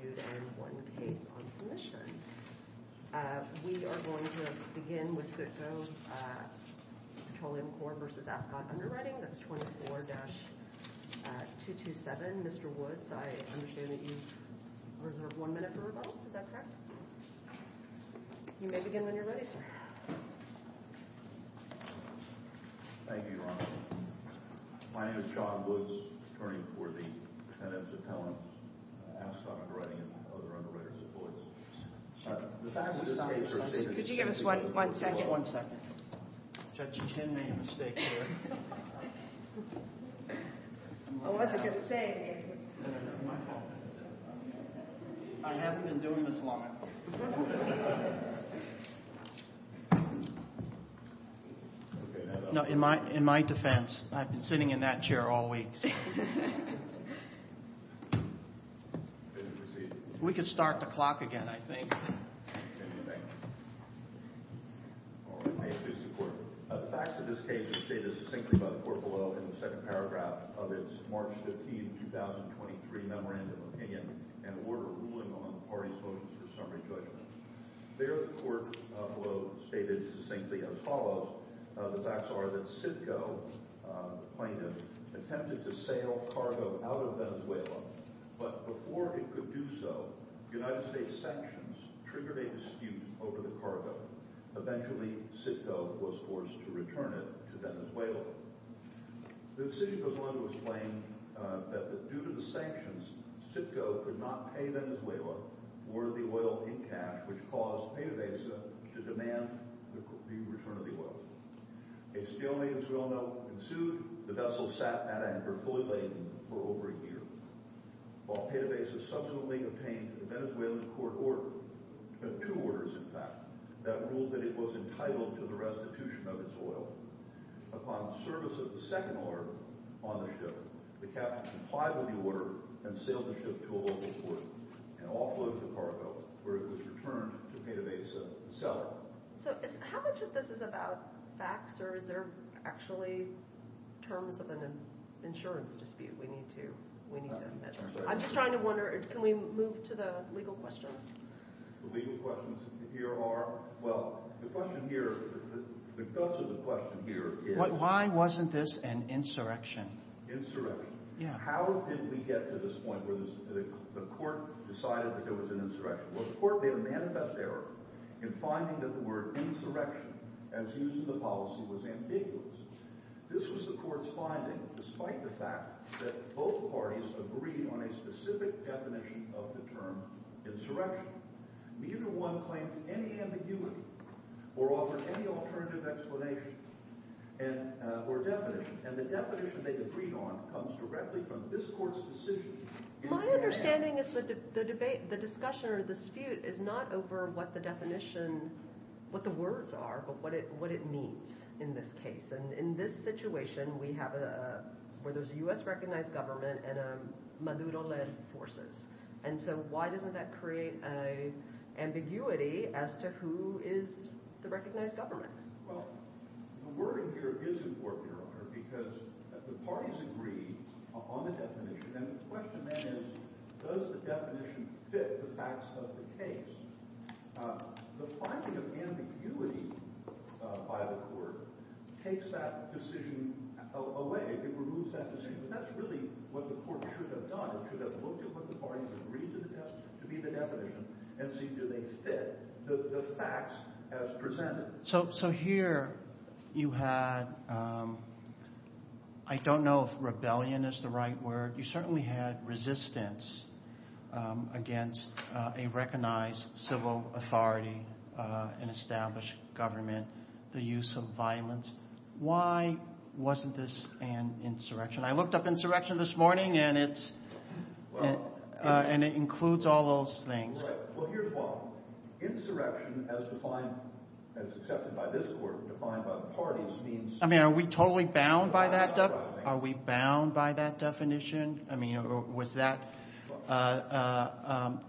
and one case on submission. We are going to begin with Sitco Petroleum Corp v. Ascot Underwriting, that's 24-227. Mr. Woods, I understand that you've reserved one minute for rebuttal, is that correct? You may begin when you're ready, sir. Thank you, Your Honor. My name is John Woods, attorney for the defendant's appellant, Ascot Underwriting and other underwriters at Lloyd's. Could you give us one second? Judge Chen made a mistake here. I wasn't going to say anything. My fault. I haven't been doing this long. In my defense, I've been sitting in that chair all week. We could start the clock again, I think. All right. May it please the court. The facts of this case are stated succinctly by the court below in the second paragraph of its March 15, 2023 memorandum of opinion and order ruling on the parties voting for summary judgment. There, the court below stated succinctly as follows. The facts are that Sitco, the plaintiff, attempted to sail cargo out of Venezuela, but before it could do so, United States sanctions triggered a dispute over the cargo. Eventually, Sitco was forced to return it to Venezuela. The decision goes on to explain that due to the sanctions, Sitco could not pay Venezuela worthy oil in cash, which caused PDVSA to demand the return of the oil. It still made Venezuela, and sued, the vessel sat at anchor fully laden for over a year. While PDVSA subsequently obtained the Venezuelan court order, two orders in fact, that ruled that it was entitled to the restitution of its oil. Upon service of the second order on the ship, the captain complied with the order and sailed the ship to a local port and offloaded the cargo, where it was returned to PDVSA the seller. So how much of this is about facts, or is there actually terms of an insurance dispute we need to measure? I'm just trying to wonder, can we move to the legal questions? The legal questions here are, well, the question here, the guts of the question here is… Why wasn't this an insurrection? Insurrection? Yeah. How did we get to this point where the court decided that it was an insurrection? Well, the court made a manifest error in finding that the word insurrection, as used in the policy, was ambiguous. This was the court's finding, despite the fact that both parties agreed on a specific definition of the term insurrection. Neither one claimed any ambiguity or offered any alternative explanation or definition. And the definition they agreed on comes directly from this court's decision. My understanding is that the discussion or the dispute is not over what the definition, what the words are, but what it means in this case. And in this situation, we have a, where there's a U.S.-recognized government and Maduro-led forces. And so why doesn't that create an ambiguity as to who is the recognized government? Well, the wording here is important, Your Honor, because the parties agreed on the definition. And the question then is does the definition fit the facts of the case? The finding of ambiguity by the court takes that decision away. It removes that decision. And that's really what the court should have done. It should have looked at what the parties agreed to be the definition and seen do they fit the facts as presented. So here you had, I don't know if rebellion is the right word. You certainly had resistance against a recognized civil authority, an established government, the use of violence. Why wasn't this an insurrection? I looked up insurrection this morning, and it includes all those things. Well, here's why. Insurrection as defined, as accepted by this court, defined by the parties means- I mean, are we totally bound by that definition? I mean, was that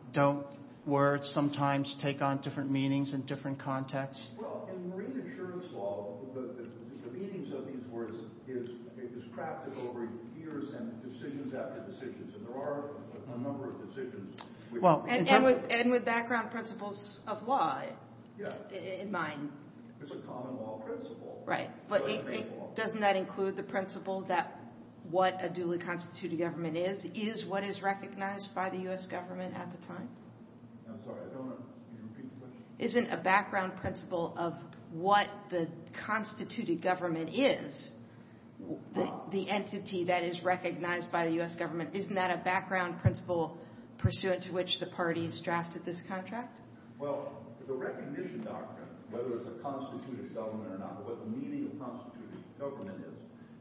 – don't words sometimes take on different meanings in different contexts? Well, in marine insurance law, the meanings of these words is crafted over years and decisions after decisions. And there are a number of decisions. And with background principles of law in mind. It's a common law principle. Right. But doesn't that include the principle that what a duly constituted government is, is what is recognized by the U.S. government at the time? I'm sorry, I don't want to repeat the question. Isn't a background principle of what the constituted government is the entity that is recognized by the U.S. government? Isn't that a background principle pursuant to which the parties drafted this contract? Well, the recognition doctrine, whether it's a constituted government or not, what the meaning of constituted government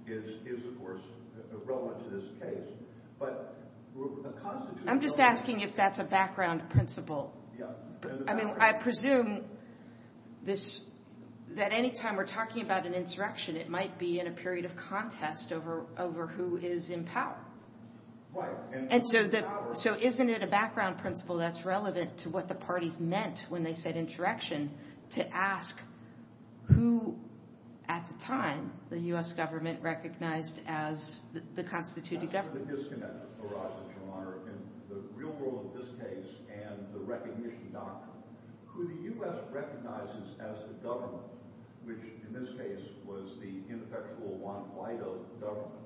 is, is, of course, relevant to this case. But a constituted government- I'm just asking if that's a background principle. Yeah. I mean, I presume that any time we're talking about an insurrection, it might be in a period of contest over who is in power. Right. And so isn't it a background principle that's relevant to what the parties meant when they said insurrection to ask who, at the time, the U.S. government recognized as the constituted government? The real role of this case and the recognition doctrine, who the U.S. recognizes as the government, which in this case was the ineffectual Juan Guaido government,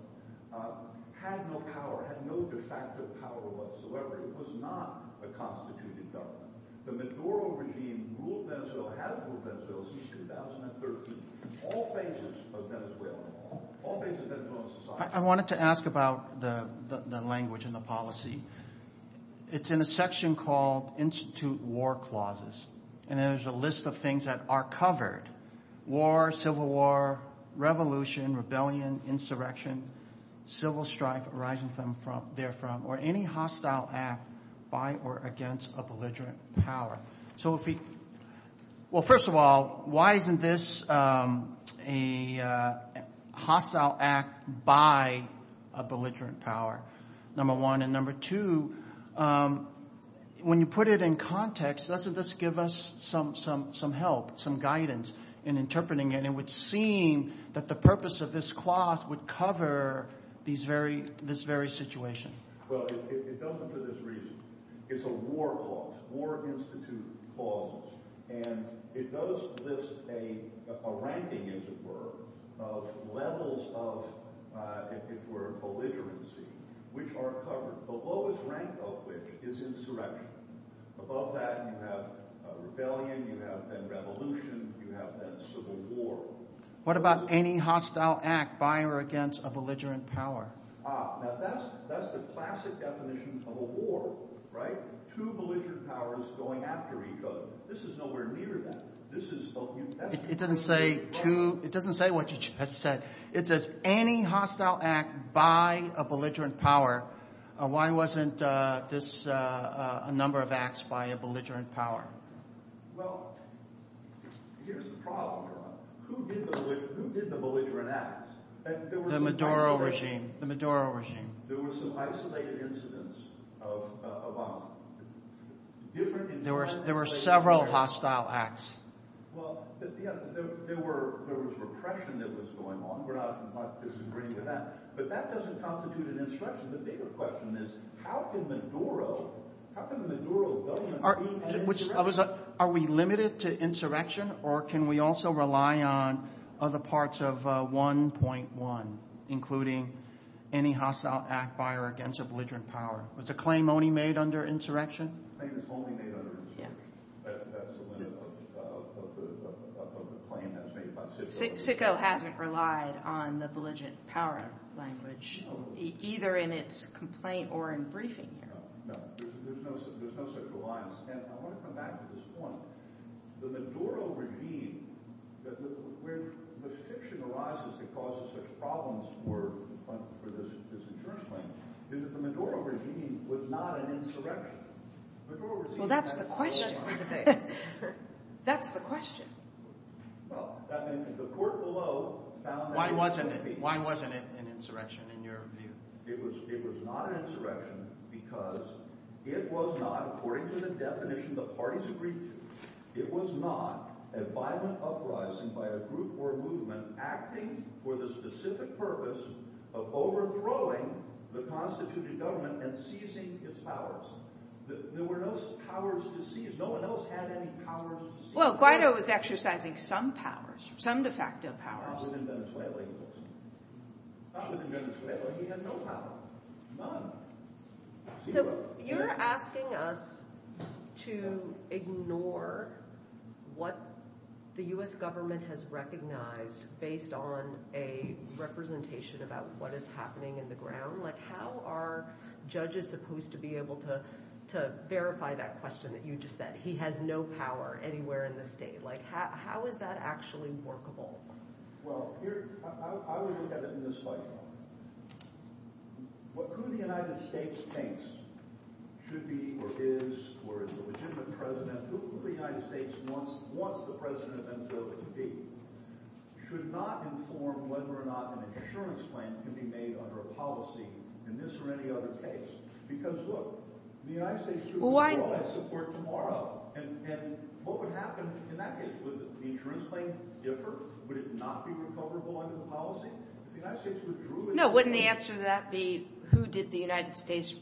had no power, had no de facto power whatsoever. It was not a constituted government. The Maduro regime ruled Venezuela, had ruled Venezuela since 2013, all phases of Venezuelan law, all phases of Venezuelan society. I wanted to ask about the language and the policy. It's in a section called Institute War Clauses, and there's a list of things that are covered, war, civil war, revolution, rebellion, insurrection, civil strife arising therefrom, or any hostile act by or against a belligerent power. Well, first of all, why isn't this a hostile act by a belligerent power, number one? And number two, when you put it in context, doesn't this give us some help, some guidance in interpreting it? It would seem that the purpose of this clause would cover this very situation. Well, it doesn't for this reason. It's a war clause, war institute clause, and it does list a ranking, as it were, of levels of, if it were, belligerency, which are covered. The lowest rank of which is insurrection. Above that you have rebellion, you have then revolution, you have then civil war. What about any hostile act by or against a belligerent power? Ah, now that's the classic definition of a war, right? Two belligerent powers going after each other. This is nowhere near that. It doesn't say what you just said. It says any hostile act by a belligerent power. Why wasn't this a number of acts by a belligerent power? Well, here's the problem. Who did the belligerent acts? The Maduro regime. The Maduro regime. There were some isolated incidents of hostile acts. There were several hostile acts. Well, there was repression that was going on. We're not disagreeing with that. But that doesn't constitute an insurrection. The bigger question is how can the Maduro government be an insurrection? Are we limited to insurrection, or can we also rely on other parts of 1.1, including any hostile act by or against a belligerent power? Was the claim only made under insurrection? The claim is only made under insurrection. That's the limit of the claim that was made by CICCO. CICCO hasn't relied on the belligerent power language, either in its complaint or in briefing here. No, there's no such reliance. I want to come back to this point. The Maduro regime, where the fiction arises that causes such problems for this insurance claim, is that the Maduro regime was not an insurrection. Well, that's the question. That's the question. Well, the court below found that it could be. Why wasn't it an insurrection in your view? It was not an insurrection because it was not, according to the definition the parties agreed to, it was not a violent uprising by a group or movement acting for the specific purpose of overthrowing the constituted government and seizing its powers. There were no powers to seize. No one else had any powers to seize. Well, Guaido was exercising some powers, some de facto powers. Not within Venezuela, he was. Not within Venezuela, he had no power. So you're asking us to ignore what the U.S. government has recognized based on a representation about what is happening in the ground? Like, how are judges supposed to be able to verify that question that you just said? He has no power anywhere in the state. Like, how is that actually workable? Well, I would look at it in this light. Who the United States thinks should be or is or is the legitimate president, who the United States wants the president of Venezuela to be, should not inform whether or not an insurance plan can be made under a policy in this or any other case. Because, look, the United States should withdraw its support tomorrow. And what would happen in that case? Would the insurance plan differ? Would it not be recoverable under the policy? If the United States withdrew its support... No, wouldn't the answer to that be, who did the United States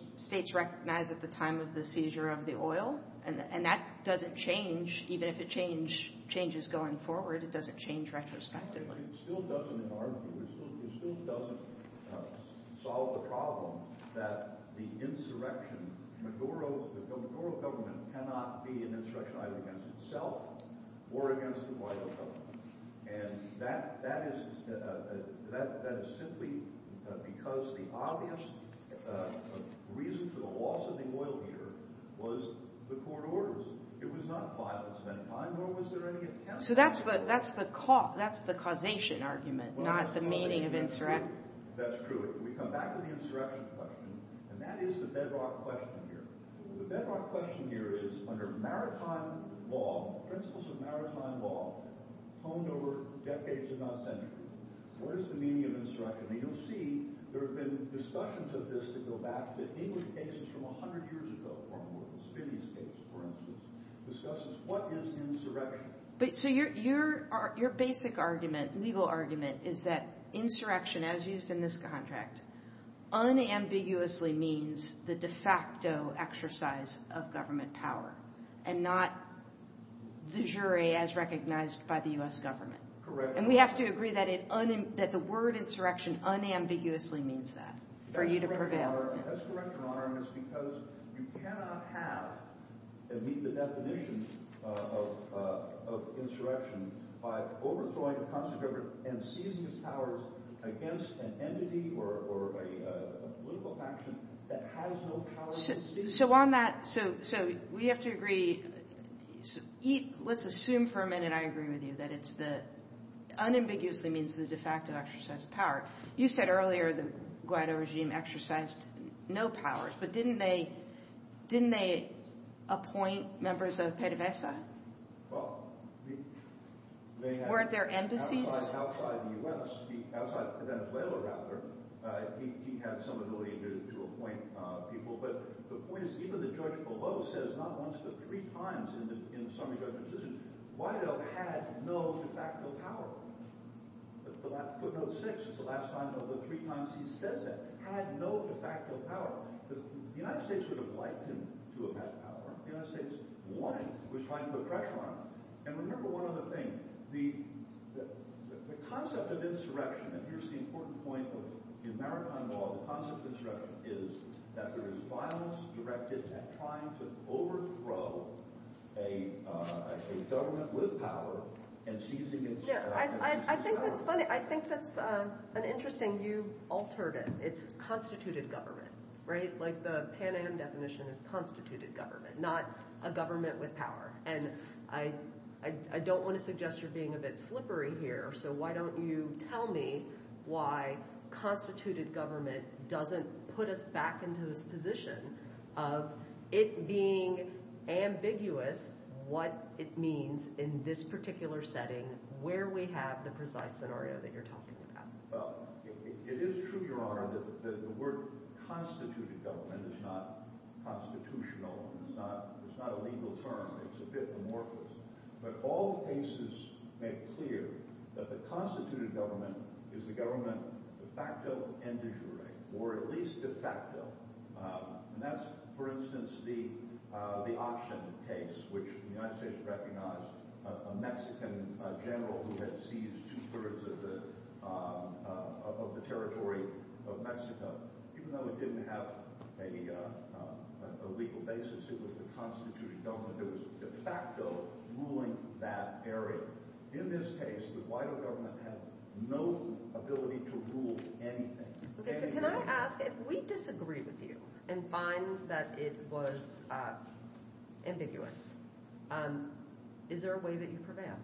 recognize at the time of the seizure of the oil? And that doesn't change. Even if it changes going forward, it doesn't change retrospectively. It still doesn't, in our view, it still doesn't solve the problem that the insurrection, the Maduro government cannot be an insurrection either against itself or against the Guaido government. And that is simply because the obvious reason for the loss of the oil here was the court orders. It was not violence of any kind, nor was there any attempt to... So that's the causation argument, not the meaning of insurrection. That's true. We come back to the insurrection question. And that is the bedrock question here. The bedrock question here is, under maritime law, principles of maritime law honed over decades, if not centuries, what is the meaning of insurrection? And you'll see there have been discussions of this that go back to English cases from 100 years ago, or a Morpheus Phineas case, for instance, discusses what is insurrection. So your basic argument, legal argument, is that insurrection, as used in this contract, unambiguously means the de facto exercise of government power and not the jury as recognized by the U.S. government. Correct. And we have to agree that the word insurrection unambiguously means that for you to prevail. That's correct, Your Honor. And that's correct, Your Honor. And it's because you cannot have and meet the definition of insurrection by overthrowing a constitution and seizing its powers against an entity or a political faction that has no power to seize it. So on that, so we have to agree. Let's assume for a minute I agree with you that it's the— unambiguously means the de facto exercise of power. You said earlier the Guaido regime exercised no powers, but didn't they appoint members of PDVSA? Well, they had— Weren't there embassies? —outside the U.S., outside Venezuela, rather. He had some ability to appoint people, but the point is even the judge below says not once but three times in the summary judgment decision, Guaido had no de facto power. Footnote 6, it's the last time but the three times he says that, had no de facto power. The United States would have liked him to have had power. The United States, one, was trying to put pressure on him. And remember one other thing. The concept of insurrection, and here's the important point with the American law, the concept of insurrection is that there is violence directed at trying to overthrow a government with power Yeah, I think that's funny. I think that's an interesting—you altered it. It's constituted government, right? Like the Pan Am definition is constituted government, not a government with power. And I don't want to suggest you're being a bit slippery here, so why don't you tell me why constituted government doesn't put us back into this position of it being ambiguous what it means in this particular setting where we have the precise scenario that you're talking about. Well, it is true, Your Honor, that the word constituted government is not constitutional. It's not a legal term. It's a bit amorphous. But all cases make clear that the constituted government is the government de facto and de jure, or at least de facto, and that's, for instance, the auction case, which the United States recognized a Mexican general who had seized two-thirds of the territory of Mexico. Even though it didn't have a legal basis, it was the constituted government that was de facto ruling that area. In this case, the Guaido government had no ability to rule anything. Okay, so can I ask, if we disagree with you and find that it was ambiguous, is there a way that you prevail?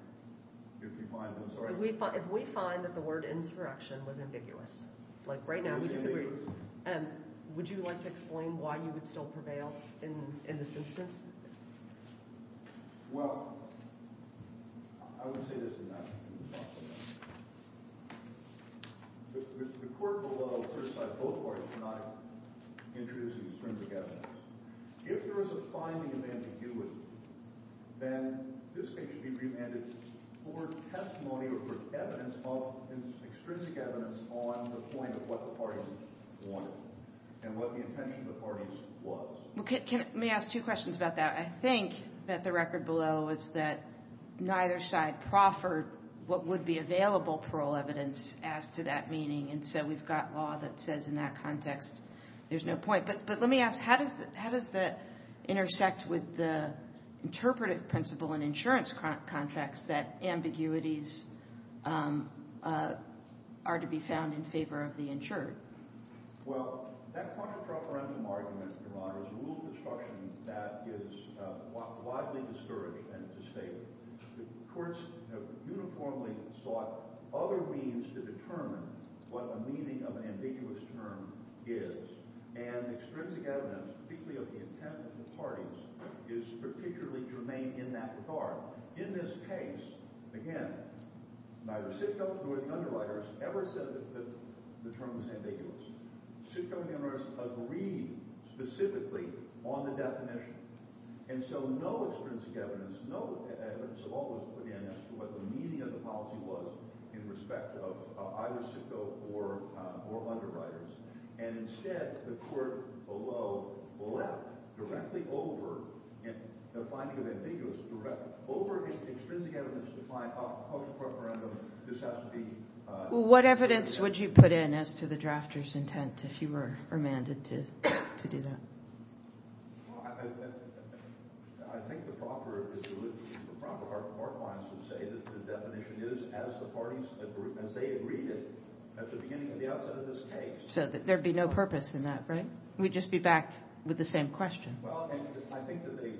If you find, I'm sorry? If we find that the word insurrection was ambiguous, like right now we disagree, would you like to explain why you would still prevail in this instance? Well, I would say this, and then I can talk about it. The court will criticize both parties for not introducing extrinsic evidence. If there is a finding of ambiguity, then this case should be remanded for testimony or for evidence of extrinsic evidence on the point of what the parties wanted and what the intention of the parties was. Let me ask two questions about that. I think that the record below is that neither side proffered what would be available parole evidence as to that meaning, and so we've got law that says in that context there's no point. But let me ask, how does that intersect with the interpretive principle in insurance contracts that ambiguities are to be found in favor of the insured? Well, that contra preferential argument, Your Honor, is a rule of instruction that is widely discouraged and disfavored. The courts have uniformly sought other means to determine what the meaning of an ambiguous term is, and extrinsic evidence, particularly of the intent of the parties, is particularly germane in that regard. In this case, again, neither Sitko nor the underwriters ever said that the term was ambiguous. Sitko and the underwriters agreed specifically on the definition, and so no extrinsic evidence, no evidence at all was put in as to what the meaning of the policy was in respect of either Sitko or underwriters. What evidence would you put in as to the drafter's intent if you were remanded to do that? Well, I think the proper court lines would say that the definition is, as the parties agreed, as they agreed at the beginning and the outset of this case, So there would be no purpose in that, right? We'd just be back with the same question. Well, I think that they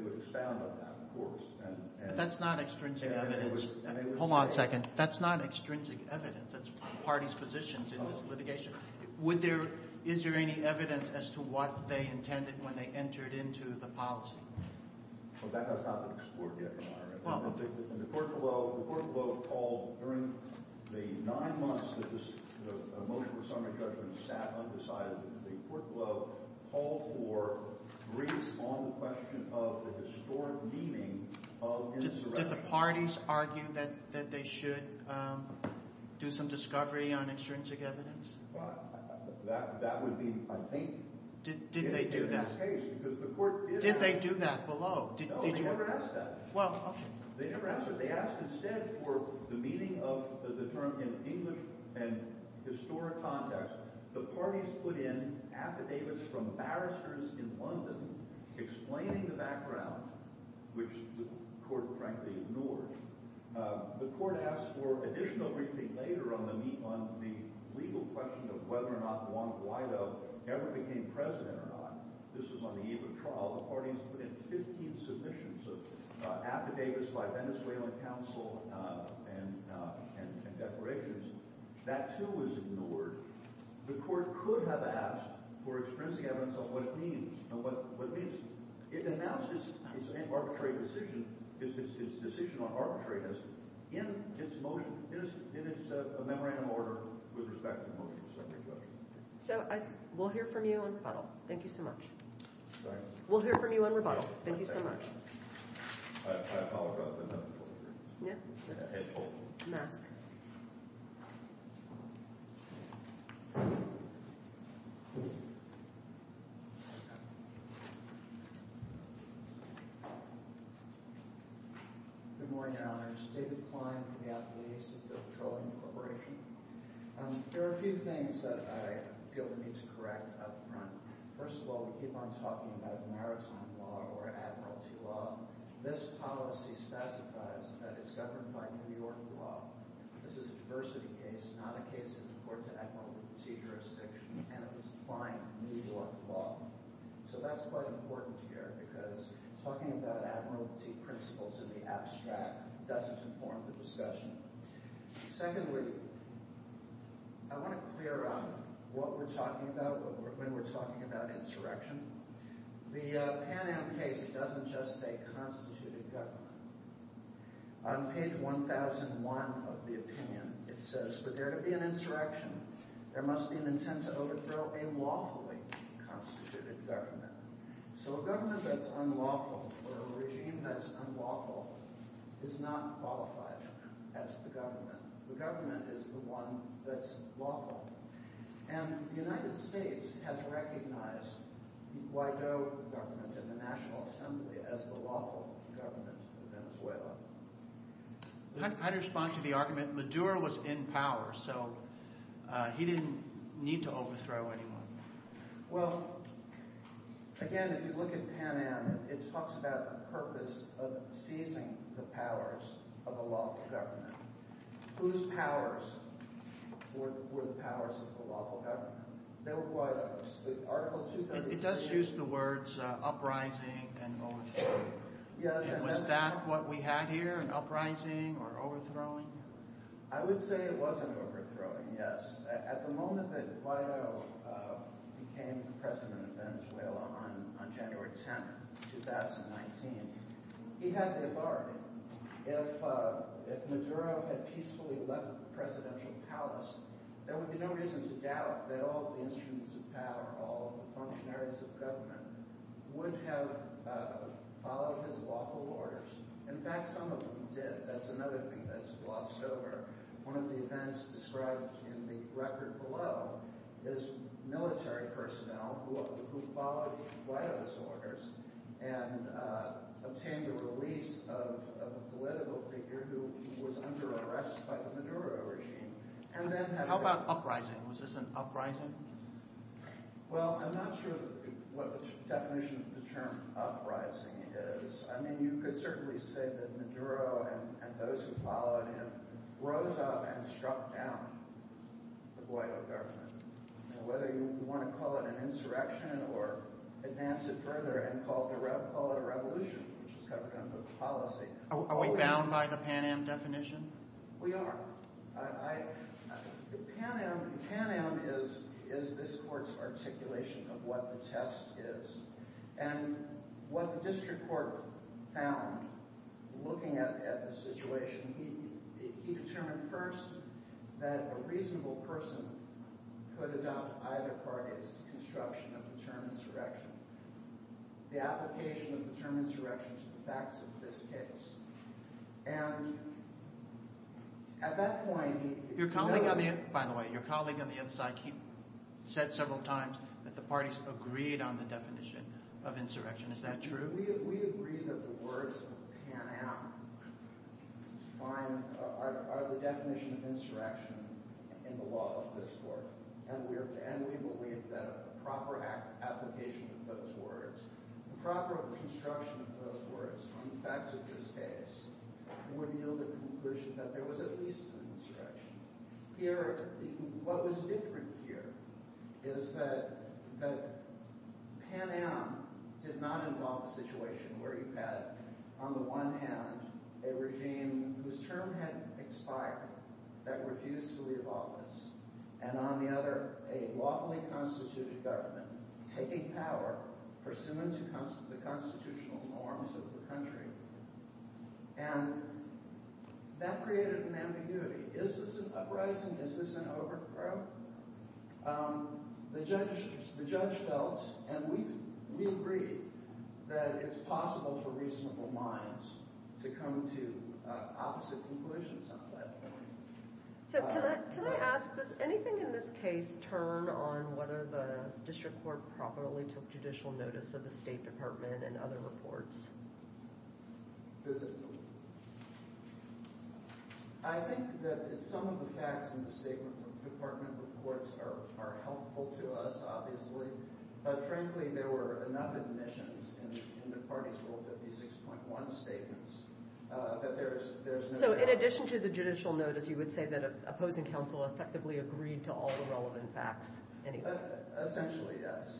would expound on that, of course. But that's not extrinsic evidence. Hold on a second. That's not extrinsic evidence. That's the parties' positions in this litigation. Is there any evidence as to what they intended when they entered into the policy? Well, that has not been explored yet, Your Honor. The court below called during the nine months that the motion for summary judgment sat undecided. The court below called for briefs on the question of the historic meaning of insurrection. Did the parties argue that they should do some discovery on extrinsic evidence? That would be, I think, in this case. Did they do that? Did they do that below? No, they never asked that. Well, okay. They never asked that. They asked instead for the meaning of the term in English and historic context. The parties put in affidavits from barristers in London explaining the background, which the court frankly ignored. The court asked for additional briefing later on the legal question of whether or not Juan Guaido ever became president or not. This was on the eve of trial. The parties put in 15 submissions of affidavits by Venezuelan counsel and declarations. That, too, was ignored. The court could have asked for extrinsic evidence of what it means. And what it means, it announced its arbitrary decision, its decision on arbitrariness in its motion, in its memorandum order with respect to motion of summary judgment. So we'll hear from you on rebuttal. Thank you so much. We'll hear from you on rebuttal. Thank you so much. I apologize. Mask. Good morning, Your Honors. David Klein from the Athletics and Petroleum Corporation. There are a few things that I feel the need to correct up front. First of all, we keep on talking about maritime law or admiralty law. This policy specifies that it's governed by New York law. This is a diversity case, not a case in the courts of admiralty jurisdiction, and it was defined New York law. So that's quite important here because talking about admiralty principles in the abstract doesn't inform the discussion. Secondly, I want to clear up what we're talking about when we're talking about insurrection. The Pan Am case doesn't just say constituted government. On page 1001 of the opinion, it says, for there to be an insurrection, there must be an intent to overthrow a lawfully constituted government. So a government that's unlawful or a regime that's unlawful is not qualified as the government. The government is the one that's lawful. And the United States has recognized the Guaido government in the National Assembly as the lawful government of Venezuela. I'd respond to the argument. Maduro was in power, so he didn't need to overthrow anyone. Well, again, if you look at Pan Am, it talks about the purpose of seizing the powers of a lawful government. Whose powers were the powers of the lawful government? They were Guaido's. It does use the words uprising and overthrowing. Was that what we had here, an uprising or overthrowing? I would say it wasn't overthrowing, yes. At the moment that Guaido became president of Venezuela on January 10, 2019, he had the authority. If Maduro had peacefully left the presidential palace, there would be no reason to doubt that all the institutes of power, all the functionaries of government, would have followed his lawful orders. In fact, some of them did. That's another thing that's glossed over. One of the events described in the record below is military personnel who followed Guaido's orders and obtained the release of a political figure who was under arrest by the Maduro regime. How about uprising? Was this an uprising? Well, I'm not sure what the definition of the term uprising is. I mean you could certainly say that Maduro and those who followed him rose up and struck down the Guaido government. Whether you want to call it an insurrection or advance it further and call it a revolution, which is covered under the policy. Are we bound by the Pan Am definition? We are. Pan Am is this court's articulation of what the test is. And what the district court found looking at the situation, he determined first that a reasonable person could adopt either party's construction of the term insurrection, the application of the term insurrection to the facts of this case. By the way, your colleague on the other side said several times that the parties agreed on the definition of insurrection. Is that true? We agree that the words Pan Am are the definition of insurrection in the law of this court. And we believe that a proper application of those words, a proper construction of those words on the facts of this case would yield a conclusion that there was at least an insurrection. What was different here is that Pan Am did not involve a situation where you had, on the one hand, a regime whose term had expired that refused to leave office, and on the other, a lawfully constituted government taking power pursuant to the constitutional norms of the country. And that created an ambiguity. Is this an uprising? Is this an overthrow? The judge felt, and we agree, that it's possible for reasonable minds to come to opposite conclusions on that point. So can I ask, does anything in this case turn on whether the district court properly took judicial notice of the State Department and other reports? Physically. I think that some of the facts in the State Department reports are helpful to us, obviously. But frankly, there were enough admissions in the parties' Rule 56.1 statements that there's no doubt. So in addition to the judicial notice, you would say that opposing counsel effectively agreed to all the relevant facts? Essentially, yes.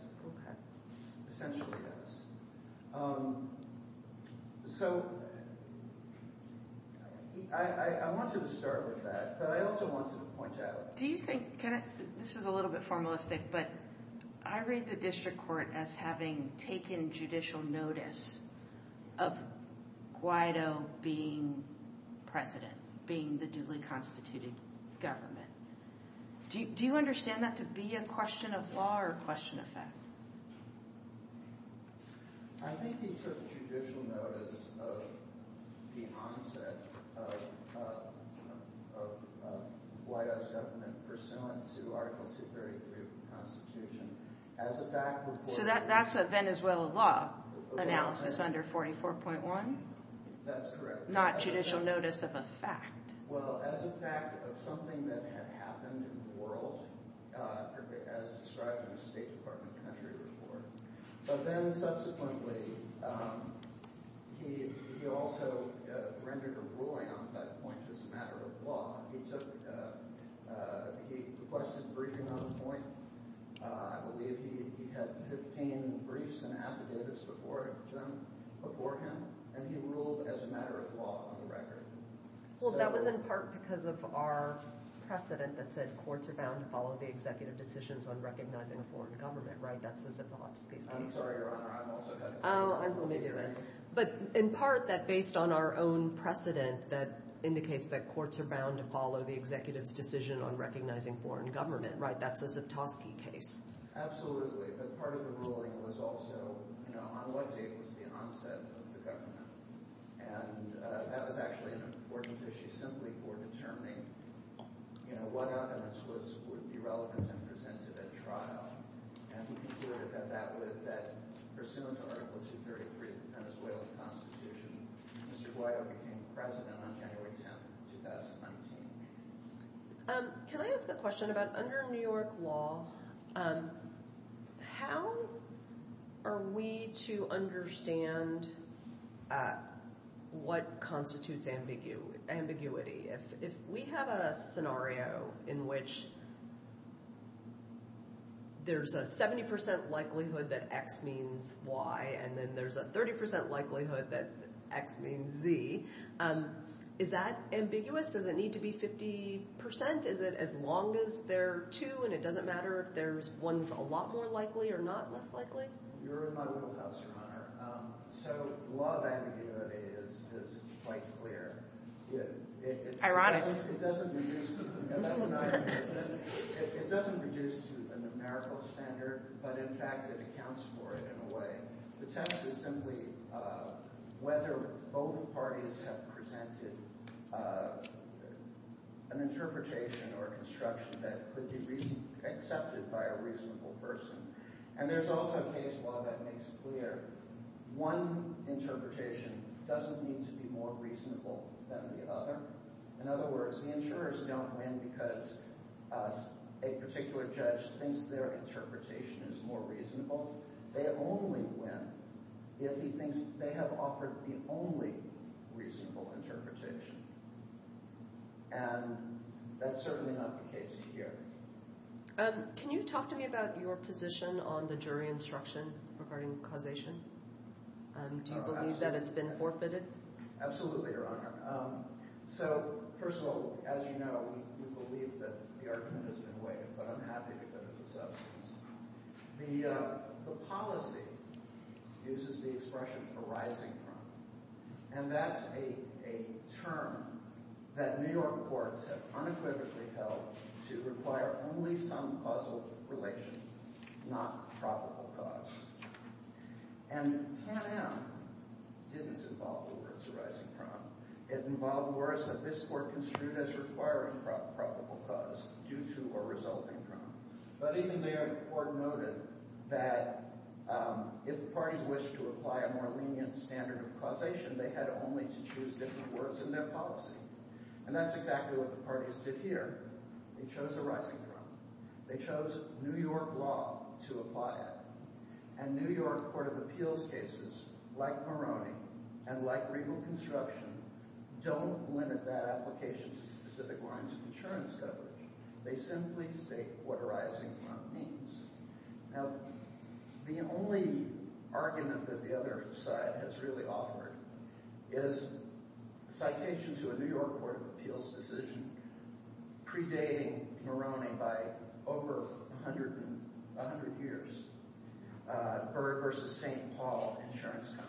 Essentially, yes. So I want to start with that, but I also want to point out. This is a little bit formalistic, but I read the district court as having taken judicial notice of Guaido being president, being the duly constituted government. Do you understand that to be a question of law or a question of fact? I think he took judicial notice of the onset of Guaido's government pursuant to Article 233 of the Constitution as a fact report. So that's a Venezuelan law analysis under 44.1? That's correct. Not judicial notice of a fact. Well, as a fact of something that had happened in the world, as described in the State Department country report. But then subsequently, he also rendered a ruling on that point as a matter of law. He requested briefing on the point. I believe he had 15 briefs and affidavits before him, and he ruled as a matter of law on the record. Well, that was in part because of our precedent that said courts are bound to follow the executive decisions on recognizing a foreign government, right? That's as if the Hotskies case— I'm sorry, Your Honor, I'm also having difficulty— Oh, I'm going to do it. But in part, that based on our own precedent, that indicates that courts are bound to follow the executive's decision on recognizing foreign government, right? That's as if Tosky case. Absolutely. But part of the ruling was also on what date was the onset of the government. And that was actually an important issue simply for determining what evidence would be relevant and presented at trial. And we concluded that pursuant to Article 233 of the Venezuelan Constitution, Mr. Guaido became president on January 10, 2019. Can I ask a question about under New York law, how are we to understand what constitutes ambiguity? If we have a scenario in which there's a 70% likelihood that X means Y and then there's a 30% likelihood that X means Z, is that ambiguous? Does it need to be 50%? Is it as long as there are two and it doesn't matter if there's one that's a lot more likely or not less likely? You're in my wheelhouse, Your Honor. So law of ambiguity is quite clear. It doesn't reduce to a numerical standard, but in fact it accounts for it in a way. The test is simply whether both parties have presented an interpretation or construction that could be accepted by a reasonable person. And there's also a case law that makes clear one interpretation doesn't need to be more reasonable than the other. In other words, the insurers don't win because a particular judge thinks their interpretation is more reasonable. They only win if he thinks they have offered the only reasonable interpretation. And that's certainly not the case here. Can you talk to me about your position on the jury instruction regarding causation? Do you believe that it's been forfeited? Absolutely, Your Honor. So first of all, as you know, we believe that the argument has been waived, but I'm happy to put it to substance. The policy uses the expression arising from, and that's a term that New York courts have unequivocally held to require only some causal relation, not probable cause. And Pan Am didn't involve the words arising from. It involved words that this court construed as requiring probable cause due to or resulting from. But even there, the court noted that if the parties wished to apply a more lenient standard of causation, they had only to choose different words in their policy. And that's exactly what the parties did here. They chose arising from. They chose New York law to apply it. And New York court of appeals cases, like Moroni and like Regal Construction, don't limit that application to specific lines of insurance coverage. They simply state what arising from means. Now, the only argument that the other side has really offered is a citation to a New York court of appeals decision predating Moroni by over 100 years, Bird v. St. Paul Insurance Company.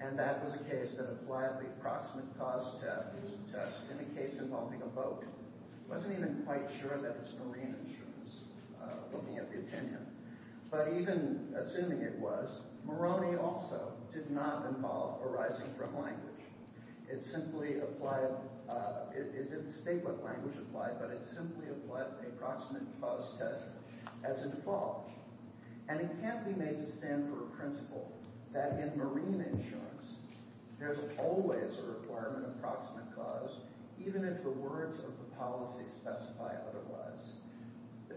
And that was a case that applied the approximate cause test in a case involving a boat. It wasn't even quite sure that it's marine insurance, looking at the opinion. But even assuming it was, Moroni also did not involve arising from language. It simply applied – it didn't state what language applied, but it simply applied the approximate cause test as a default. And it can't be made to stand for a principle that in marine insurance, there's always a requirement of approximate cause, even if the words of the policy specify otherwise.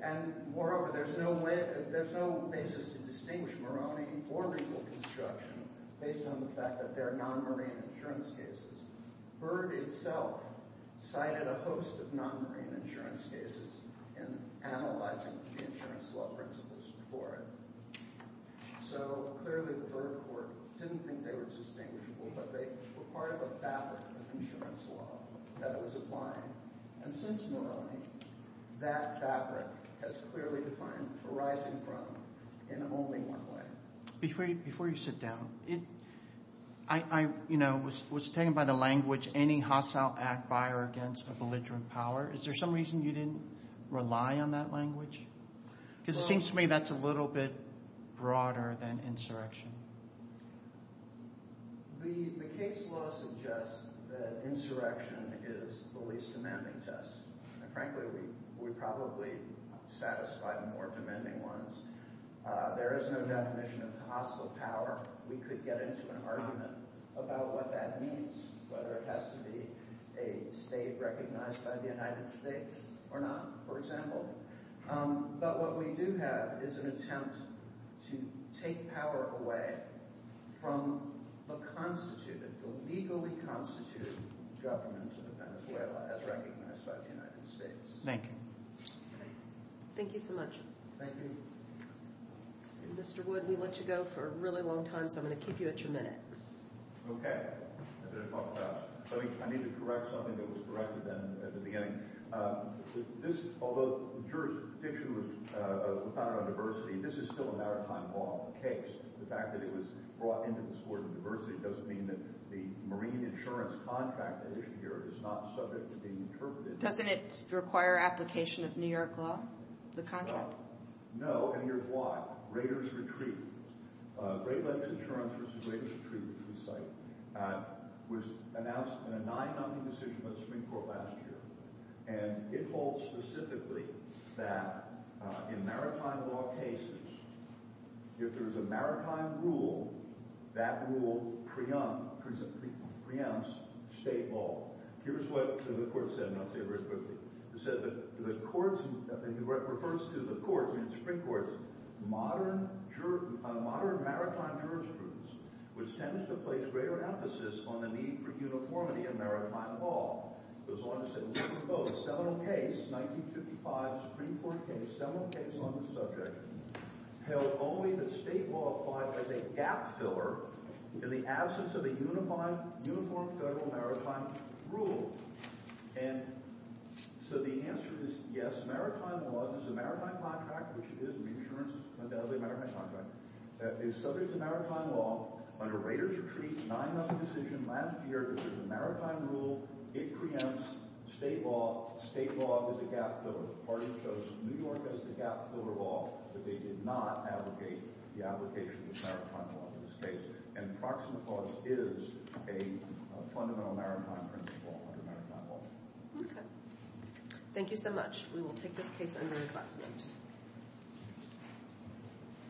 And moreover, there's no way – there's no basis to distinguish Moroni or Regal Construction based on the fact that they're non-marine insurance cases. Bird itself cited a host of non-marine insurance cases in analyzing the insurance law principles before it. So clearly the Bird court didn't think they were distinguishable, but they were part of a fabric of insurance law that was applying. And since Moroni, that fabric has clearly defined arising from in only one way. Before you sit down, I was taken by the language, any hostile act by or against a belligerent power. Is there some reason you didn't rely on that language? Because it seems to me that's a little bit broader than insurrection. The case law suggests that insurrection is the least demanding test. And frankly, we probably satisfy the more demanding ones. There is no definition of hostile power. We could get into an argument about what that means, whether it has to be a state recognized by the United States or not, for example. But what we do have is an attempt to take power away from the constituted, the legally constituted government of Venezuela as recognized by the United States. Thank you. Thank you so much. Thank you. Mr. Wood, we let you go for a really long time, so I'm going to keep you at your minute. Okay. I need to correct something that was corrected at the beginning. Although the jurisdiction was founded on diversity, this is still a maritime law case. The fact that it was brought into this court of diversity doesn't mean that the marine insurance contract that is here is not subject to being interpreted. Doesn't it require application of New York law, the contract? No, and here's why. Raiders Retreat, Great Lakes Insurance versus Raiders Retreat, which we cite, was announced in a 9-0 decision by the Supreme Court last year. And it holds specifically that in maritime law cases, if there is a maritime rule, that rule preempts state law. Here's what the court said, and I'll say it very quickly. It said that the courts – it refers to the courts, the Supreme Courts, modern maritime jurisprudence, which tends to place greater emphasis on the need for uniformity in maritime law. It goes on to say we propose several cases, 1955 Supreme Court case, several cases on this subject, held only that state law applied as a gap filler in the absence of a uniform federal maritime rule. And so the answer is yes, maritime law is a maritime contract, which it is. Marine insurance is undoubtedly a maritime contract. It is subject to maritime law. Under Raiders Retreat's 9-0 decision last year, if there's a maritime rule, it preempts state law. State law is a gap filler. The court chose New York as the gap filler law, but they did not abrogate the application of maritime law in this case. And proximate clause is a fundamental maritime principle under maritime law. Okay. Thank you so much. We will take this case under reclassified.